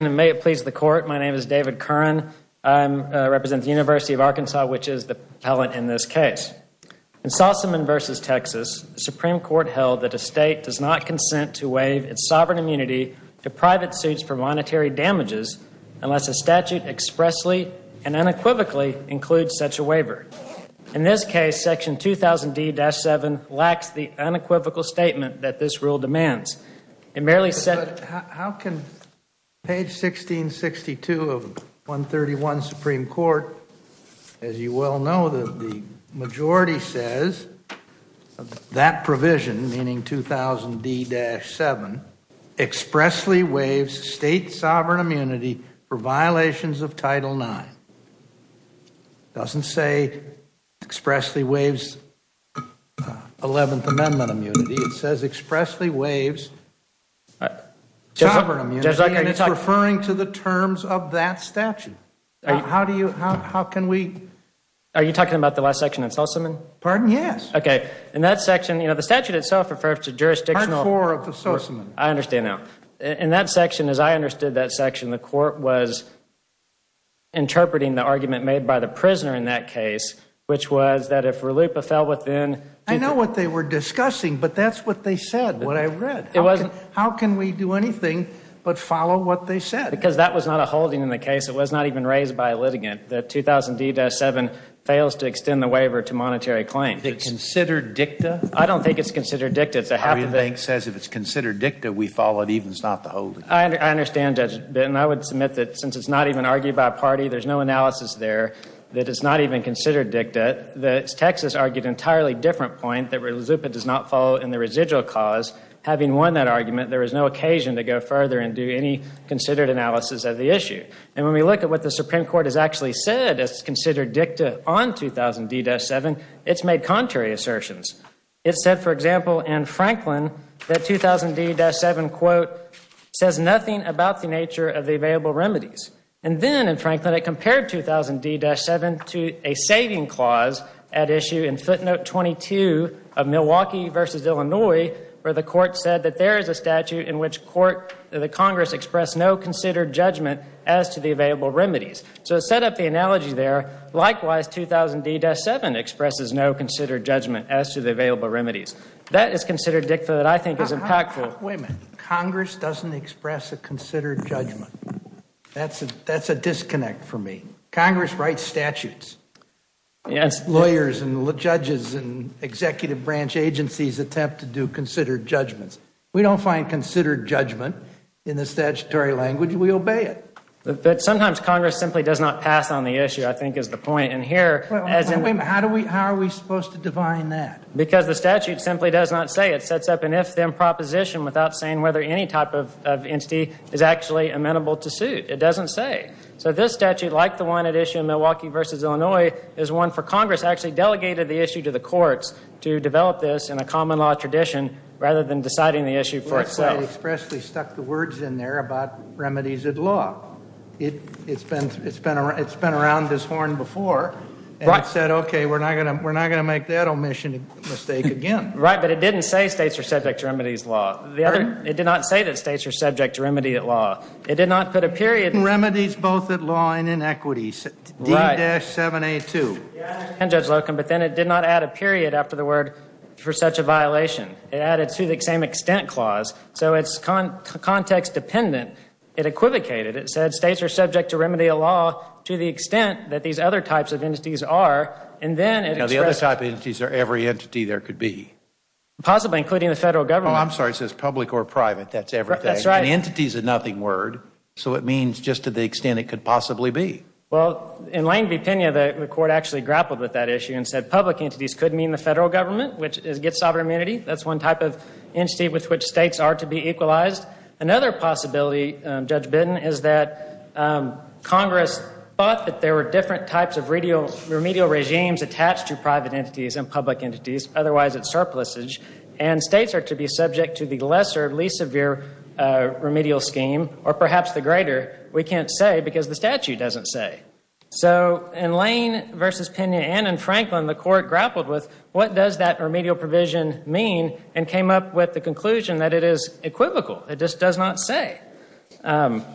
May it please the Court, my name is David Curran. I represent the University of Arkansas, which is the appellant in this case. In Sossaman v. Texas, the Supreme Court held that a state does not consent to waive its sovereign immunity to private suits for monetary damages unless a statute expressly and unequivocally includes such a waiver. In this case, section 2000 D-7 lacks the unequivocal statement that this rule demands. How can page 1662 of 131 Supreme Court, as you well know, the majority says that provision, meaning 2000 D-7, expressly waives state sovereign immunity for violations of Title 9? It doesn't say expressly waives Eleventh Amendment immunity. It says expressly waives sovereign immunity, and it's referring to the terms of that statute. How do you, how can we? Are you talking about the last section in Sossaman? Pardon? Yes. Okay. In that section, you know, the statute itself refers to jurisdictional. Part 4 of the Sossaman. I understand now. In that section, as I understood that section, the court was interpreting the argument made by the prisoner in that case, which was that if RLUIPA fell within. I know what they were discussing, but that's what they said, what I read. It wasn't. How can we do anything but follow what they said? Because that was not a holding in the case. It was not even raised by a litigant. 2000 D-7 fails to extend the waiver to monetary claims. Is it considered dicta? I don't think it's considered dicta. It's a half of it. The bank says if it's considered dicta, we follow it even if it's not the holding. I understand, Judge Bitton. I would submit that since it's not even argued by a party, there's no analysis there that it's not even considered dicta. Texas argued an entirely different point that RLUIPA does not fall in the residual cause. Having won that argument, there is no occasion to go further and do any considered analysis of the issue. And when we look at what the Supreme Court has actually said as considered dicta on 2000 D-7, it's made contrary assertions. It said, for example, in Franklin that 2000 D-7, quote, says nothing about the nature of the available remedies. And then in Franklin, it compared 2000 D-7 to a saving clause at issue in footnote 22 of Milwaukee v. Illinois where the Court said that there is a statute in which the Congress expressed no considered judgment as to the available remedies. So to set up the analogy there, likewise, 2000 D-7 expresses no considered judgment as to the available remedies. That is considered dicta that I think is impactful. Wait a minute. Congress doesn't express a considered judgment. That's a disconnect for me. Congress writes statutes. Lawyers and judges and executive branch agencies attempt to do considered judgments. We don't find considered judgment in the statutory language. We obey it. But sometimes Congress simply does not pass on the issue, I think is the point. And here, as in... Wait a minute. How are we supposed to define that? Because the statute simply does not say. It sets up an if-then proposition without saying whether any type of entity is actually amenable to suit. It doesn't say. So this statute, like the one at issue in Milwaukee v. Illinois, is one for Congress actually delegated the issue to the courts to develop this in a common law tradition rather than deciding the issue for itself. But it expressly stuck the words in there about remedies at law. It's been around this horn before and it said, okay, we're not going to make that omission mistake again. Right, but it didn't say states are subject to remedies law. It did not say that states are subject to remedy at law. It did not put a period... Remedies both at law and in equities. D-7A2. I understand, Judge Locombe, but then it did not add a period after the word for such a So it's context-dependent. It equivocated. It said states are subject to remedy at law to the extent that these other types of entities are, and then it expressed... Now the other type of entities are every entity there could be. Possibly, including the federal government. Oh, I'm sorry. It says public or private. That's everything. That's right. And entity is a nothing word, so it means just to the extent it could possibly be. Well, in Lane v. Pena, the court actually grappled with that issue and said public entities with which states are to be equalized. Another possibility, Judge Bitton, is that Congress thought that there were different types of remedial regimes attached to private entities and public entities, otherwise it's surpluses, and states are to be subject to the lesser, least severe remedial scheme, or perhaps the greater. We can't say because the statute doesn't say. So in Lane v. Pena and in Franklin, the court grappled with what does that remedial provision mean and came up with the conclusion that it is equivocal. It just does not say. And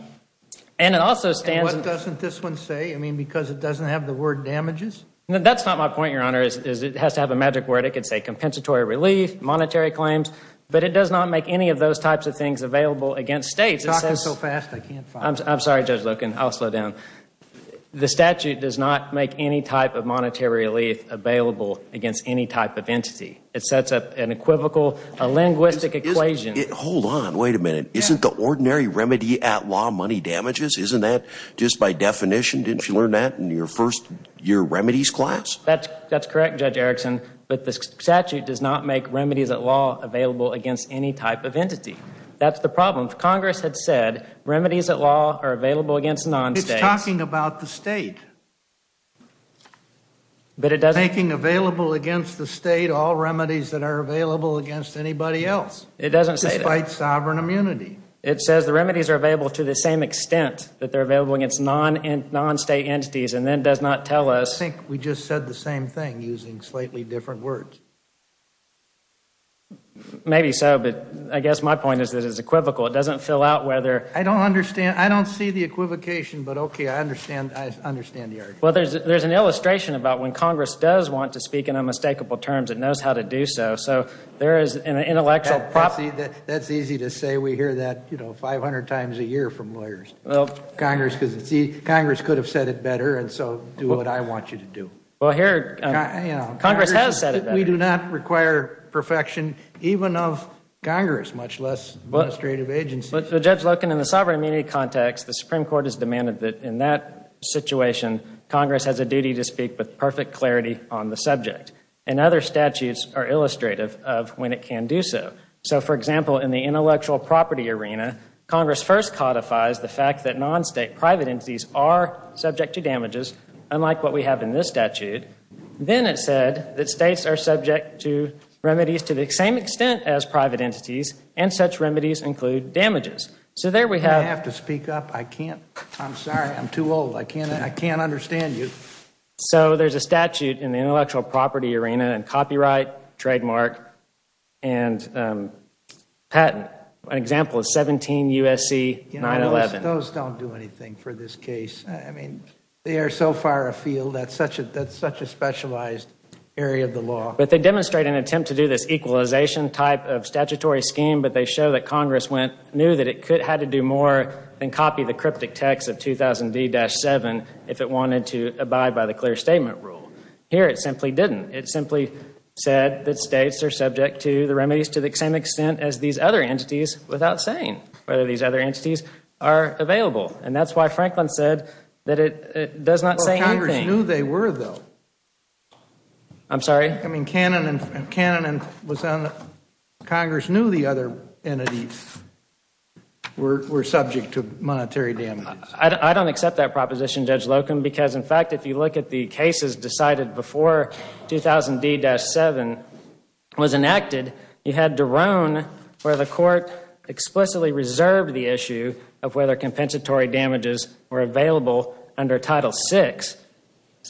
it also stands... And what doesn't this one say? I mean, because it doesn't have the word damages? That's not my point, Your Honor, is it has to have a magic word. It could say compensatory relief, monetary claims, but it does not make any of those types of things available against states. You're talking so fast, I can't follow. I'm sorry, Judge Loken. I'll slow down. The statute does not make any type of monetary relief available against any type of entity. It sets up an equivocal, a linguistic equation. Hold on, wait a minute. Isn't the ordinary remedy at law money damages? Isn't that just by definition? Didn't you learn that in your first year remedies class? That's correct, Judge Erickson, but the statute does not make remedies at law available against any type of entity. That's the problem. Congress had said remedies at law are available against non-states. You're talking about the state. Making available against the state all remedies that are available against anybody else. It doesn't say that. Despite sovereign immunity. It says the remedies are available to the same extent that they're available against non-state entities and then does not tell us... I think we just said the same thing using slightly different words. Maybe so, but I guess my point is that it's equivocal. It doesn't fill out whether... I don't understand. I don't see the equivocation, but okay, I understand the argument. There's an illustration about when Congress does want to speak in unmistakable terms, it knows how to do so. There is an intellectual problem. That's easy to say. We hear that 500 times a year from lawyers. Congress could have said it better and so do what I want you to do. Congress has said it better. We do not require perfection even of Congress, much less administrative agencies. But Judge Loken, in the sovereign immunity context, the Supreme Court has demanded that in that situation, Congress has a duty to speak with perfect clarity on the subject. And other statutes are illustrative of when it can do so. So for example, in the intellectual property arena, Congress first codifies the fact that non-state private entities are subject to damages, unlike what we have in this statute. Then it said that states are subject to remedies to the same extent as private entities and such remedies include damages. So there we have Do I have to speak up? I can't. I'm sorry. I'm too old. I can't understand you. So there's a statute in the intellectual property arena and copyright, trademark and patent. An example is 17 U.S.C. 911. Those don't do anything for this case. I mean, they are so far afield, that's such a specialized area of the law. But they demonstrate an attempt to do this equalization type of statutory scheme, but they show that Congress knew that it had to do more than copy the cryptic text of 2000D-7 if it wanted to abide by the clear statement rule. Here it simply didn't. It simply said that states are subject to the remedies to the same extent as these other entities without saying whether these other entities are available. And that's why Franklin said that it does not say anything. Well, Congress knew they were, though. I'm sorry? I mean, Canon and Congress knew the other entities were subject to monetary damages. I don't accept that proposition, Judge Locum, because, in fact, if you look at the cases decided before 2000D-7 was enacted, you had Derone where the court explicitly reserved the issue of whether compensatory damages were available under Title VI,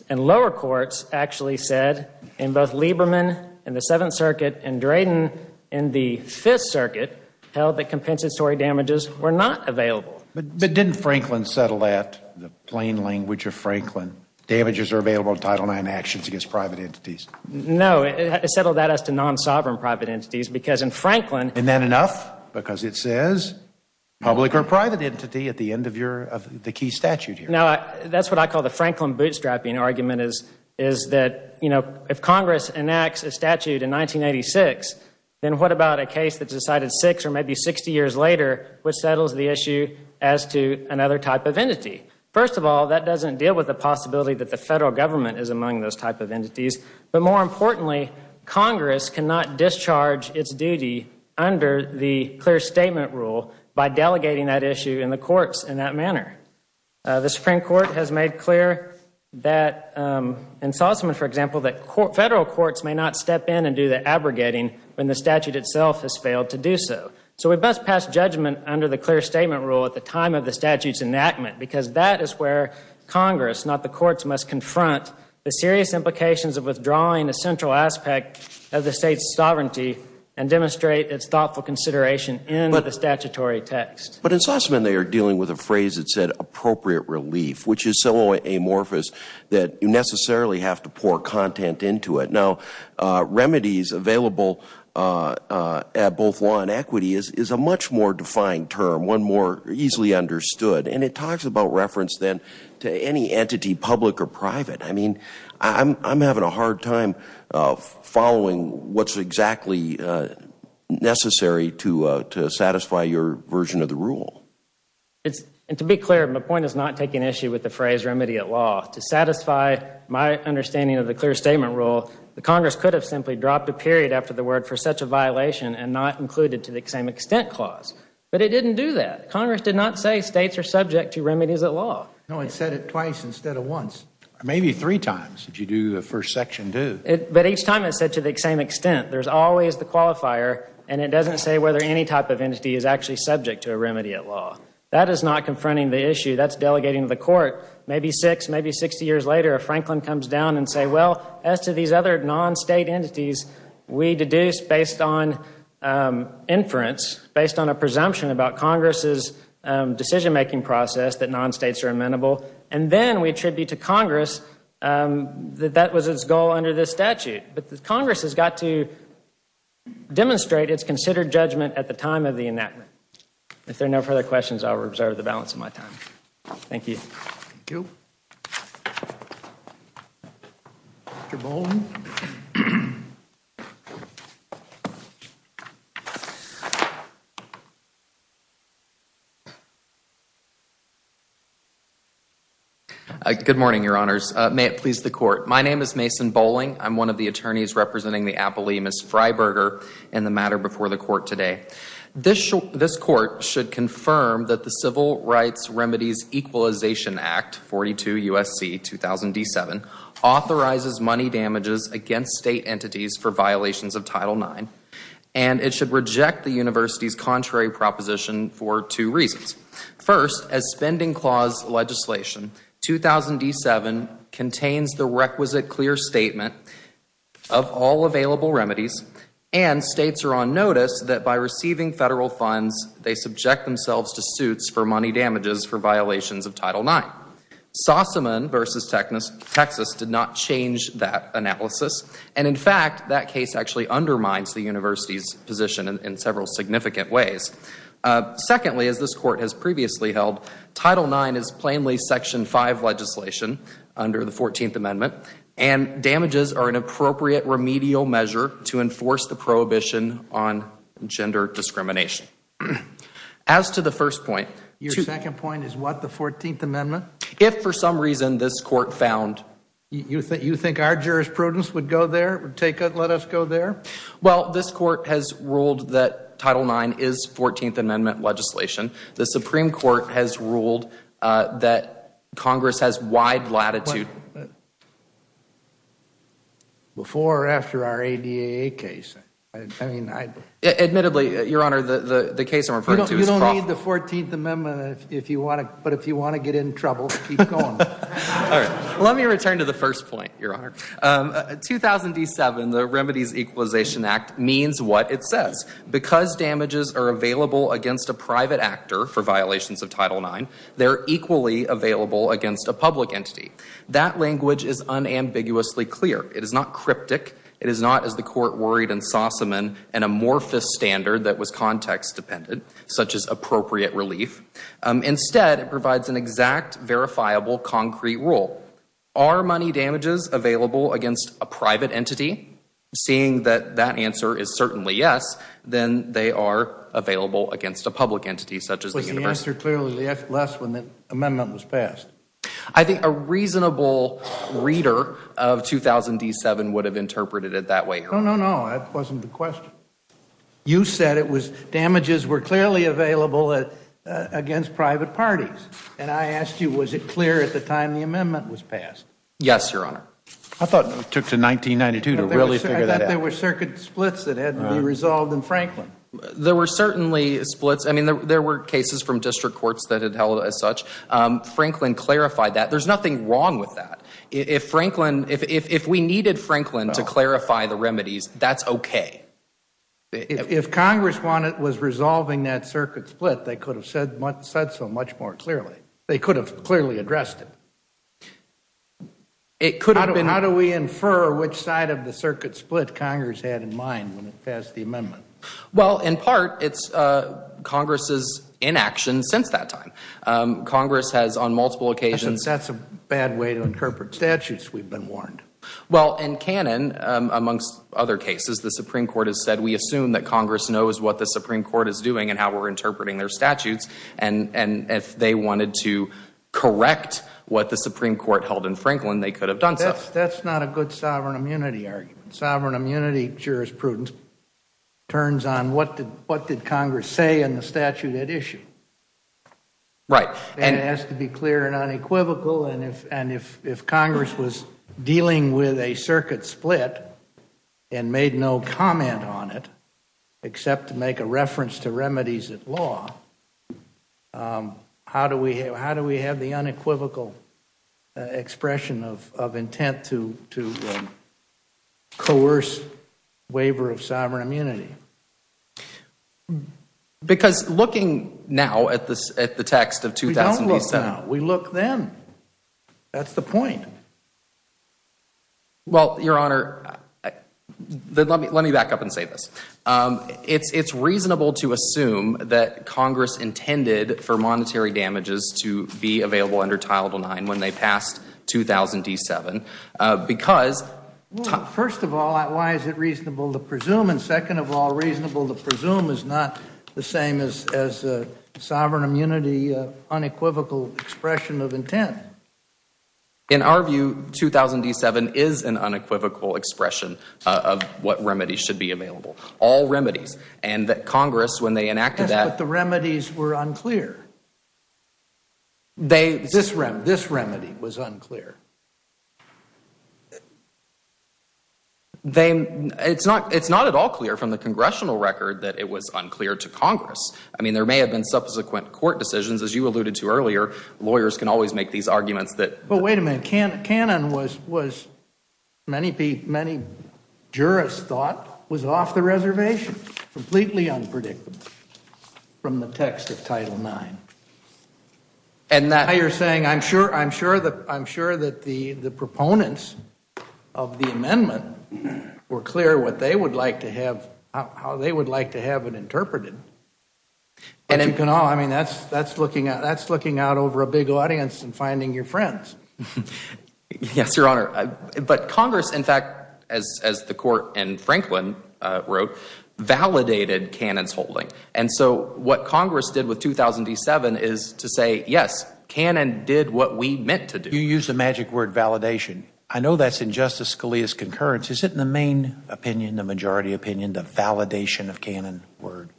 and lower courts actually said in both Lieberman in the Seventh Circuit and Drayden in the Fifth Circuit held that compensatory damages were not available. But didn't Franklin settle that, in the plain language of Franklin, damages are available in Title IX actions against private entities? No, it settled that as to non-sovereign private entities, because in Franklin Isn't that enough? Because it says public or private entity at the end of the key statute here. Now, that's what I call the Franklin bootstrapping argument, is that, you know, if Congress enacts a statute in 1986, then what about a case that's decided six or maybe 60 years later which settles the issue as to another type of entity? First of all, that doesn't deal with the possibility that the Federal Government is among those type of entities. But more importantly, Congress cannot discharge its duty under the clear statement rule by delegating that issue in the courts in that manner. The Supreme Court has made clear that in Sussman, for example, that federal courts may not step in and do the abrogating when the statute itself has failed to do so. So we best pass judgment under the clear statement rule at the time of the statute's enactment because that is where Congress, not the courts, must confront the serious implications of withdrawing a central aspect of the state's sovereignty and demonstrate its thoughtful consideration in the statutory text. But in Sussman, they are dealing with a phrase that said appropriate relief, which is so amorphous that you necessarily have to pour content into it. Now, remedies available at both law and equity is a much more defined term, one more easily understood, and it talks about reference then to any entity, public or private. I mean, I'm having a hard time following what's exactly necessary to satisfy your version of the rule. And to be clear, my point is not taking issue with the phrase remedy at law. To satisfy my understanding of the clear statement rule, the Congress could have simply dropped a period after the word for such a violation and not included to the same extent clause. But it didn't do that. Congress did not say states are subject to remedies at law. No, it said it twice instead of once. Maybe three times, did you do the first section do? But each time it said to the same extent. There's always the qualifier and it doesn't say whether any type of entity is actually subject to a remedy at law. That is not confronting the issue. That's delegating to the court. Maybe six, maybe 60 years later, if Franklin comes down and says, well, as to these other non-state entities, we deduce based on inference, based on a presumption about Congress's decision-making process that non-states are amenable, and then we attribute to Congress that that was its goal under this statute. But Congress has got to demonstrate its considered judgment at the time of the enactment. If there are no further questions, I will reserve the balance of my time. Thank you. Thank you. Mr. Bolling? Good morning, Your Honors. May it please the Court. My name is Mason Bolling. I'm one of the attorneys representing the Appellee, Ms. Freiberger, in the matter before the Court today. This Court should confirm that the Civil Rights Remedies Equalization Act, 42 U.S.C. 2007, authorizes money damages against state entities for violations of Title IX, and it should reject the University's contrary proposition for two reasons. First, as Spending Clause legislation, 2007 contains the requisite clear statement of all available remedies, and states are on notice that by receiving federal funds, they subject themselves to suits for money damages for violations of Title IX. Sossaman v. Texas did not change that analysis, and in fact, that case actually undermines the University's position in several significant ways. Secondly, as this Court has previously held, Title IX is plainly Section 5 legislation under the Fourteenth Amendment, and damages are an appropriate remedial measure to enforce the prohibition on gender discrimination. As to the first point Your second point is what, the Fourteenth Amendment? If for some reason this Court found You think our jurisprudence would go there, would let us go there? Well, this Court has ruled that Title IX is Fourteenth Amendment legislation. The Supreme Court has ruled that Congress has wide latitude Before or after our ADAA case? I mean, I Admittedly, Your Honor, the case I'm referring to is You don't need the Fourteenth Amendment if you want to, but if you want to get in trouble, keep going. All right. Let me return to the first point, Your Honor. In 2007, the Remedies Equalization Act means what it says. Because damages are available against a private actor for violations of Title IX, they're equally available against a public entity. That language is unambiguously clear. It is not cryptic. It is not, as the Court worried in Sossaman, an amorphous standard that was context-dependent, such as appropriate relief. Instead, it provides an exact, verifiable, concrete rule. Are money damages available against a private entity? Seeing that that answer is certainly yes, then they are available against a public entity, such as the university. Was the answer clearly less when the amendment was passed? I think a reasonable reader of 2007 would have interpreted it that way, Your Honor. No, no, no. That wasn't the question. You said it was, damages were clearly available against private parties. And I asked you, was it clear at the time the amendment was passed? Yes, Your Honor. I thought it took to 1992 to really figure that out. I thought there were circuit splits that had to be resolved in Franklin. There were certainly splits. There were cases from district courts that had held it as such. Franklin clarified that. There's nothing wrong with that. If we needed Franklin to clarify the remedies, that's okay. If Congress was resolving that circuit split, they could have said so much more clearly. They could have clearly addressed it. It could have been. How do we infer which side of the circuit split Congress had in mind when it passed the amendment? Well, in part, it's Congress's inaction since that time. Congress has, on multiple occasions. That's a bad way to interpret statutes, we've been warned. Well, in canon, amongst other cases, the Supreme Court has said, we assume that Congress knows what the Supreme Court is doing and how we're interpreting their statutes, and if they wanted to correct what the Supreme Court held in Franklin, they could have done so. That's not a good sovereign immunity argument. Sovereign immunity jurisprudence turns on what did Congress say in the statute at issue. Right. It has to be clear and unequivocal, and if Congress was dealing with a circuit split and made no comment on it, except to make a reference to remedies at law, how do we have the unequivocal expression of intent to coerce waiver of sovereign immunity? Because looking now at the text of 2000D7 We don't look now. We look then. That's the point. Well, Your Honor, let me back up and say this. It's reasonable to assume that Congress intended for monetary damages to be available under Title IX when they passed 2000D7 because First of all, why is it reasonable to presume? And second of all, reasonable to presume is not the same as a sovereign immunity unequivocal expression of intent. In our view, 2000D7 is an unequivocal expression of what remedies should be available, all remedies. And that Congress, when they enacted that Yes, but the remedies were unclear. This remedy was unclear. It's not at all clear from the congressional record that it was unclear to Congress. I mean, there may have been subsequent court decisions. As you alluded to earlier, lawyers can always make these arguments that But wait a minute. Cannon was, many jurists thought, was off the reservation, completely unpredictable from the text of Title IX. Now you're saying, I'm sure that the proponents of the amendment were clear what they would like to have, how they would like to have it interpreted. I mean, that's looking out over a big audience and finding your friends. Yes, Your Honor. But Congress, in fact, as the Court and Franklin wrote, validated Cannon's holding. And so what Congress did with 2000D7 is to say, yes, Cannon did what we meant to do. You used the magic word validation. I know that's in Justice Scalia's concurrence. Is it in the main opinion, the majority opinion, the validation of Cannon word?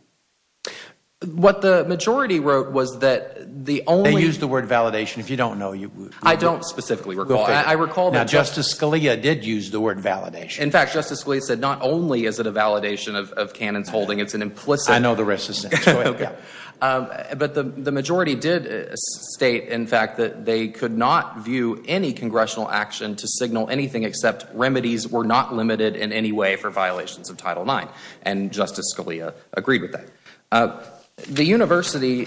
What the majority wrote was that the only They used the word validation. If you don't know, you I don't specifically recall. I recall that Justice Scalia did use the word validation. In fact, Justice Scalia said not only is it a validation of Cannon's holding, it's an implicit I know the rest is, yeah. But the majority did state, in fact, that they could not view any congressional action to signal anything except remedies were not limited in any way for violations of Title IX. And Justice Scalia agreed with that. The University,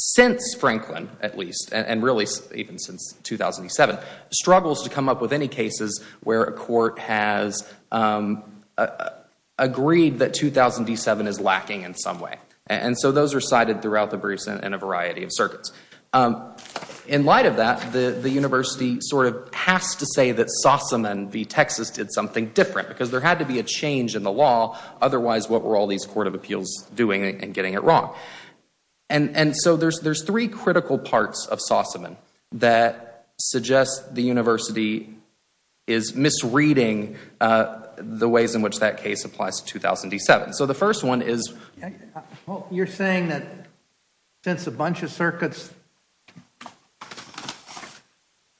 since Franklin, at least, and really even since 2007, struggles to come up with any cases where a court has agreed that 2000D7 is lacking in some way. And so those are cited throughout the briefs in a variety of circuits. In light of that, the University sort of has to say that Sauceman v. Texas did something different because there had to be a change in the law. Otherwise, what were all these court of appeals doing and getting it wrong? And so there's three critical parts of Sauceman that suggest the University is misreading the ways in which that case applies to 2000D7. So the first one is You're saying that since a bunch of circuits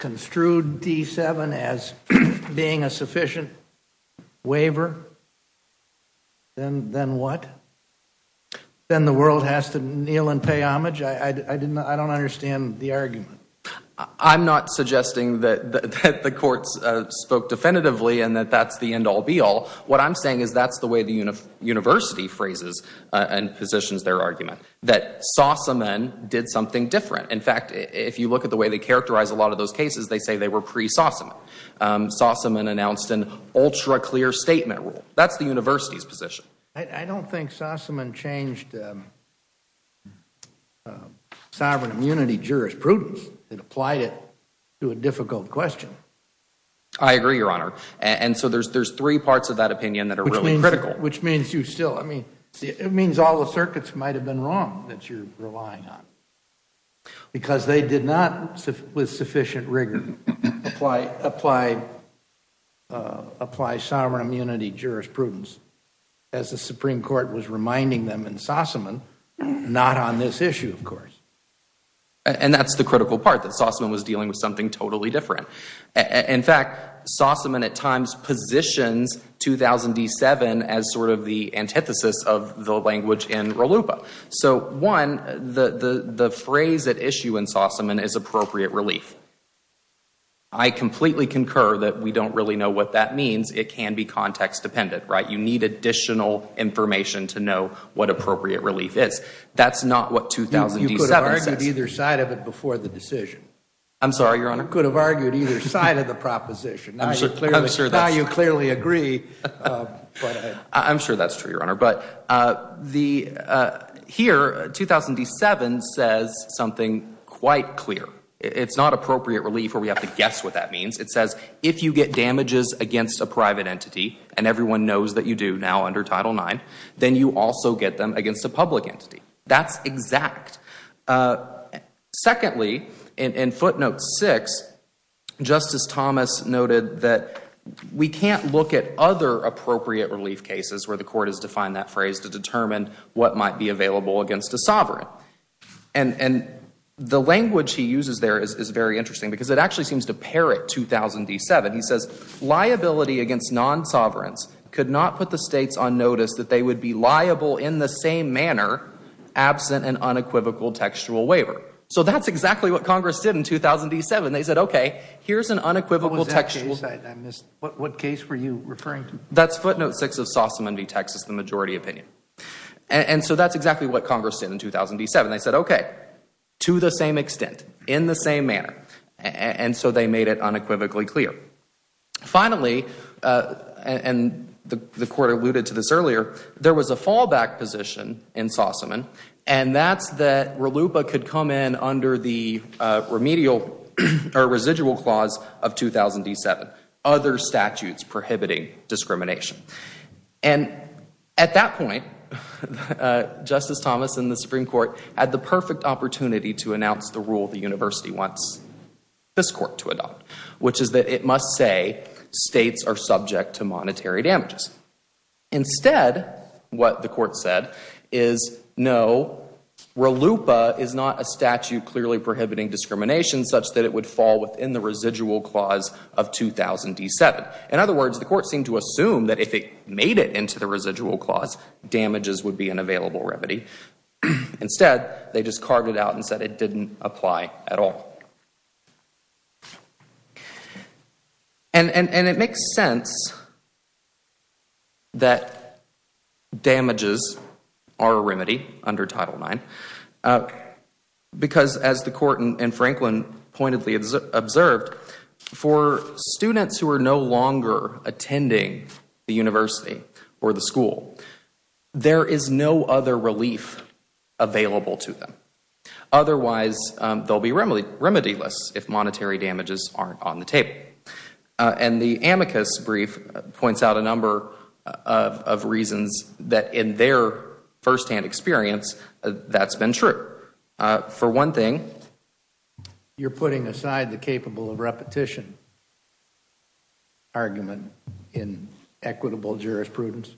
construed D7 as being a sufficient waiver, then what? Then the world has to kneel and pay homage? I don't understand the argument. I'm not suggesting that the courts spoke definitively and that that's the end-all, be-all. What I'm saying is that's the way the University phrases and positions their argument. That Sauceman did something different. In fact, if you look at the way they characterize a lot of those cases, they say they were pre-Sauceman. Sauceman announced an ultra-clear statement rule. That's the University's position. I don't think Sauceman changed sovereign immunity jurisprudence. It applied it to a difficult question. I agree, Your Honor. And so there's three parts of that opinion that are really critical. Which means you still, I mean, it means all the circuits might have been wrong that you're relying on. Because they did not, with sufficient rigor, apply apply sovereign immunity jurisprudence, as the Supreme Court was reminding them in Sauceman. Not on this issue, of course. And that's the critical part, that Sauceman was dealing with something totally different. In fact, Sauceman at times positions 2007 as sort of the antithesis of the language in RLUIPA. So, one, the phrase at issue in Sauceman is appropriate relief. I completely concur that we don't really know what that means. It can be context dependent, right? You need additional information to know what appropriate relief is. That's not what 2007 says. You could have argued either side of it before the decision. I'm sorry, Your Honor. You could have argued either side of the proposition. I'm sure that's true. Now you clearly agree. I'm sure that's true, Your Honor. But here, 2007 says something quite clear. It's not appropriate relief where we have to guess what that means. It says, if you get damages against a private entity, and everyone knows that you do now under Title IX, then you also get them against a public entity. That's exact. Secondly, in footnote 6, Justice Thomas noted that we can't look at other appropriate relief cases where the court has defined that phrase to determine what might be available against a sovereign. And the language he uses there is very interesting because it actually seems to parrot 2007. He says, liability against non-sovereigns could not put the states on notice that they would be liable in the same manner absent an unequivocal textual waiver. So that's exactly what Congress did in 2007. They said, okay, here's an unequivocal textual. What case were you referring to? That's footnote 6 of Sossaman v. Texas, the majority opinion. And so that's exactly what Congress did in 2007. They said, okay, to the same extent, in the same manner. And so they made it unequivocally clear. Finally, and the court alluded to this earlier, there was a fallback position in Sossaman, and that's that RLUIPA could come in under the residual clause of 2007, other statutes prohibiting discrimination. And at that point, Justice Thomas and the Supreme Court had the perfect opportunity to announce the rule the university wants this court to adopt, which is that it must say states are subject to monetary damages. Instead, what the court said is, no, RLUIPA is not a statute clearly prohibiting discrimination such that it would fall within the residual clause of 2007. In other words, the court seemed to assume that if it made it into the residual clause, damages would be an available remedy. Instead, they just carved it out and said it didn't apply at all. And it makes sense that damages are a remedy under Title IX, because as the court and Franklin pointedly observed, for students who are no longer attending the university or the school, there is no other relief available to them. Otherwise, they'll be remedy-less if monetary damages aren't on the table. And the amicus brief points out a number of reasons that in their firsthand experience, that's been true. For one thing... You're putting aside the capable of repetition argument in equitable jurisprudence?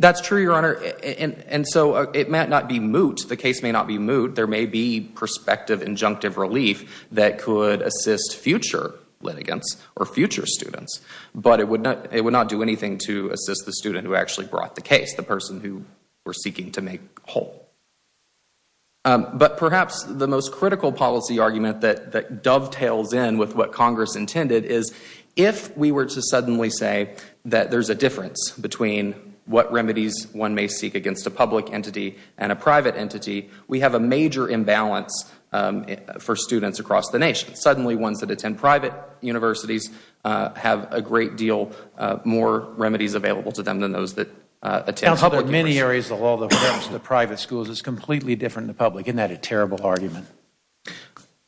That's true, Your Honor. And so it might not be moot. The case may not be moot. There may be prospective injunctive relief that could assist future litigants or future students. But it would not do anything to assist the student who actually brought the case, the person who we're seeking to make whole. But perhaps the most critical policy argument that dovetails in with what Congress intended is, if we were to suddenly say that there's a difference between what remedies one may seek against a public entity and a private entity, we have a major imbalance for students across the nation. Suddenly, ones that attend private universities have a great deal more remedies available to them than those that attend public universities. There are many areas of the law that prevents the private schools. It's completely different in the public. Isn't that a terrible argument?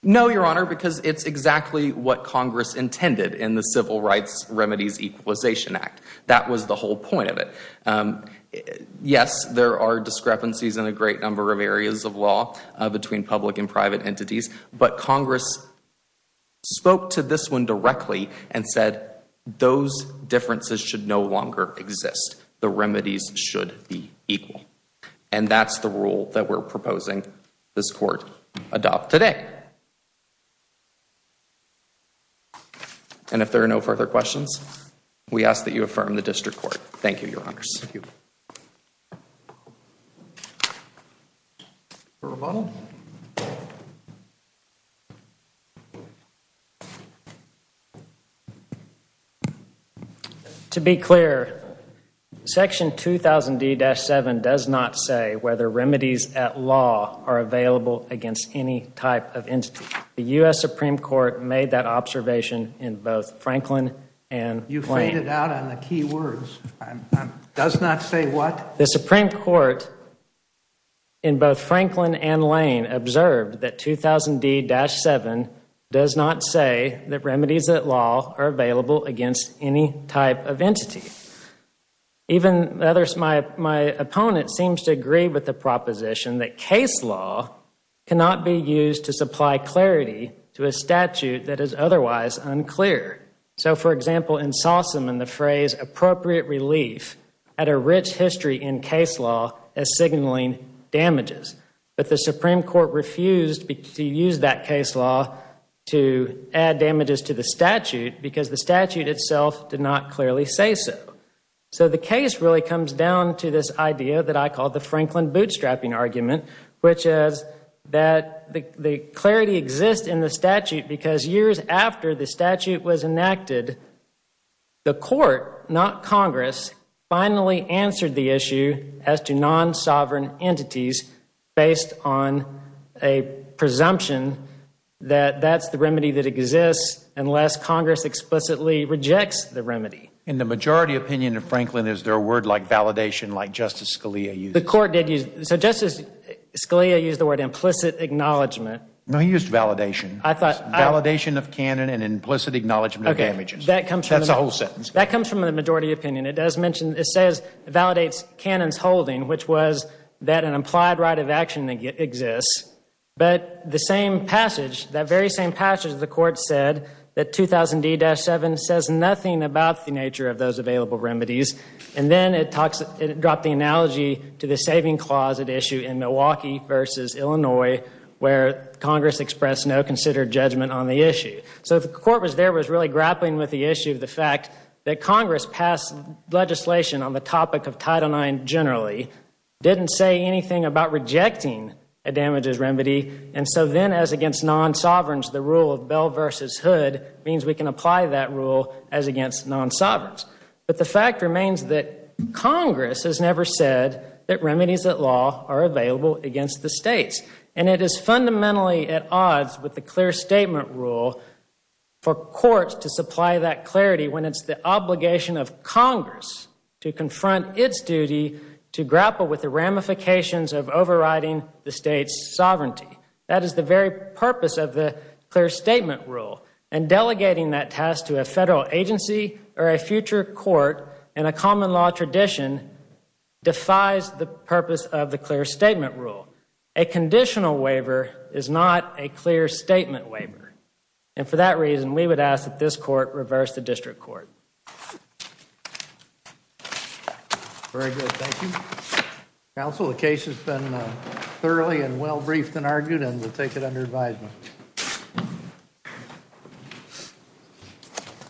No, Your Honor, because it's exactly what Congress intended in the Civil Rights Remedies Equalization Act. That was the whole point of it. Yes, there are discrepancies in a great number of areas of law between public and private entities. But Congress spoke to this one directly and said, those differences should no longer exist. The remedies should be equal. And that's the rule that we're proposing this Court adopt today. And if there are no further questions, we ask that you affirm the District Court. Thank you, Your Honors. Thank you. Thank you, Your Honor. Rebuttal? To be clear, Section 2000D-7 does not say whether remedies at law are available against any type of entity. The U.S. Supreme Court made that observation in both Franklin and Plain. You faded out on the key words. Does not say what? The Supreme Court in both Franklin and Lane observed that 2000D-7 does not say that remedies at law are available against any type of entity. Even my opponent seems to agree with the proposition that case law cannot be used to supply clarity to a statute that is otherwise unclear. So, for example, in Sossum, in the phrase appropriate relief had a rich history in case law as signaling damages. But the Supreme Court refused to use that case law to add damages to the statute because the statute itself did not clearly say so. So the case really comes down to this idea that I call the Franklin bootstrapping argument, which is that the clarity exists in the statute because years after the statute was enacted, the court, not Congress, finally answered the issue as to non-sovereign entities based on a presumption that that's the remedy that exists unless Congress explicitly rejects the remedy. In the majority opinion of Franklin, is there a word like validation like Justice Scalia used? So Justice Scalia used the word implicit acknowledgment. No, he used validation. Validation of canon and implicit acknowledgment of damages. That's a whole sentence. That comes from the majority opinion. It does mention, it says, it validates canon's holding, which was that an implied right of action exists. But the same passage, that very same passage, the court said that 2000D-7 says nothing about the nature of those available remedies. And then it dropped the analogy to the saving clause at issue in Milwaukee versus Illinois where Congress expressed no considered judgment on the issue. So the court was there, was really grappling with the issue of the fact that Congress passed legislation on the topic of Title IX generally, didn't say anything about rejecting a damages remedy, and so then as against non-sovereigns, the rule of Bell versus Hood means we can apply that rule as against non-sovereigns. But the fact remains that Congress has never said that remedies at law are available against the states. And it is fundamentally at odds with the clear statement rule for courts to supply that clarity when it's the obligation of Congress to confront its duty to grapple with the ramifications of overriding the state's sovereignty. That is the very purpose of the clear statement rule. And delegating that task to a federal agency or a future court in a common law tradition defies the purpose of the clear statement rule. A conditional waiver is not a clear statement waiver. And for that reason, we would ask that this court reverse the district court. Very good, thank you. Counsel, the case has been thoroughly and well-briefed and argued, and we'll take it under advisement.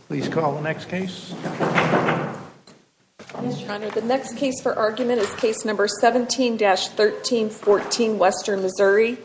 Please call the next case. Your Honor, the next case for argument is case number 17-1314, Western Missouri.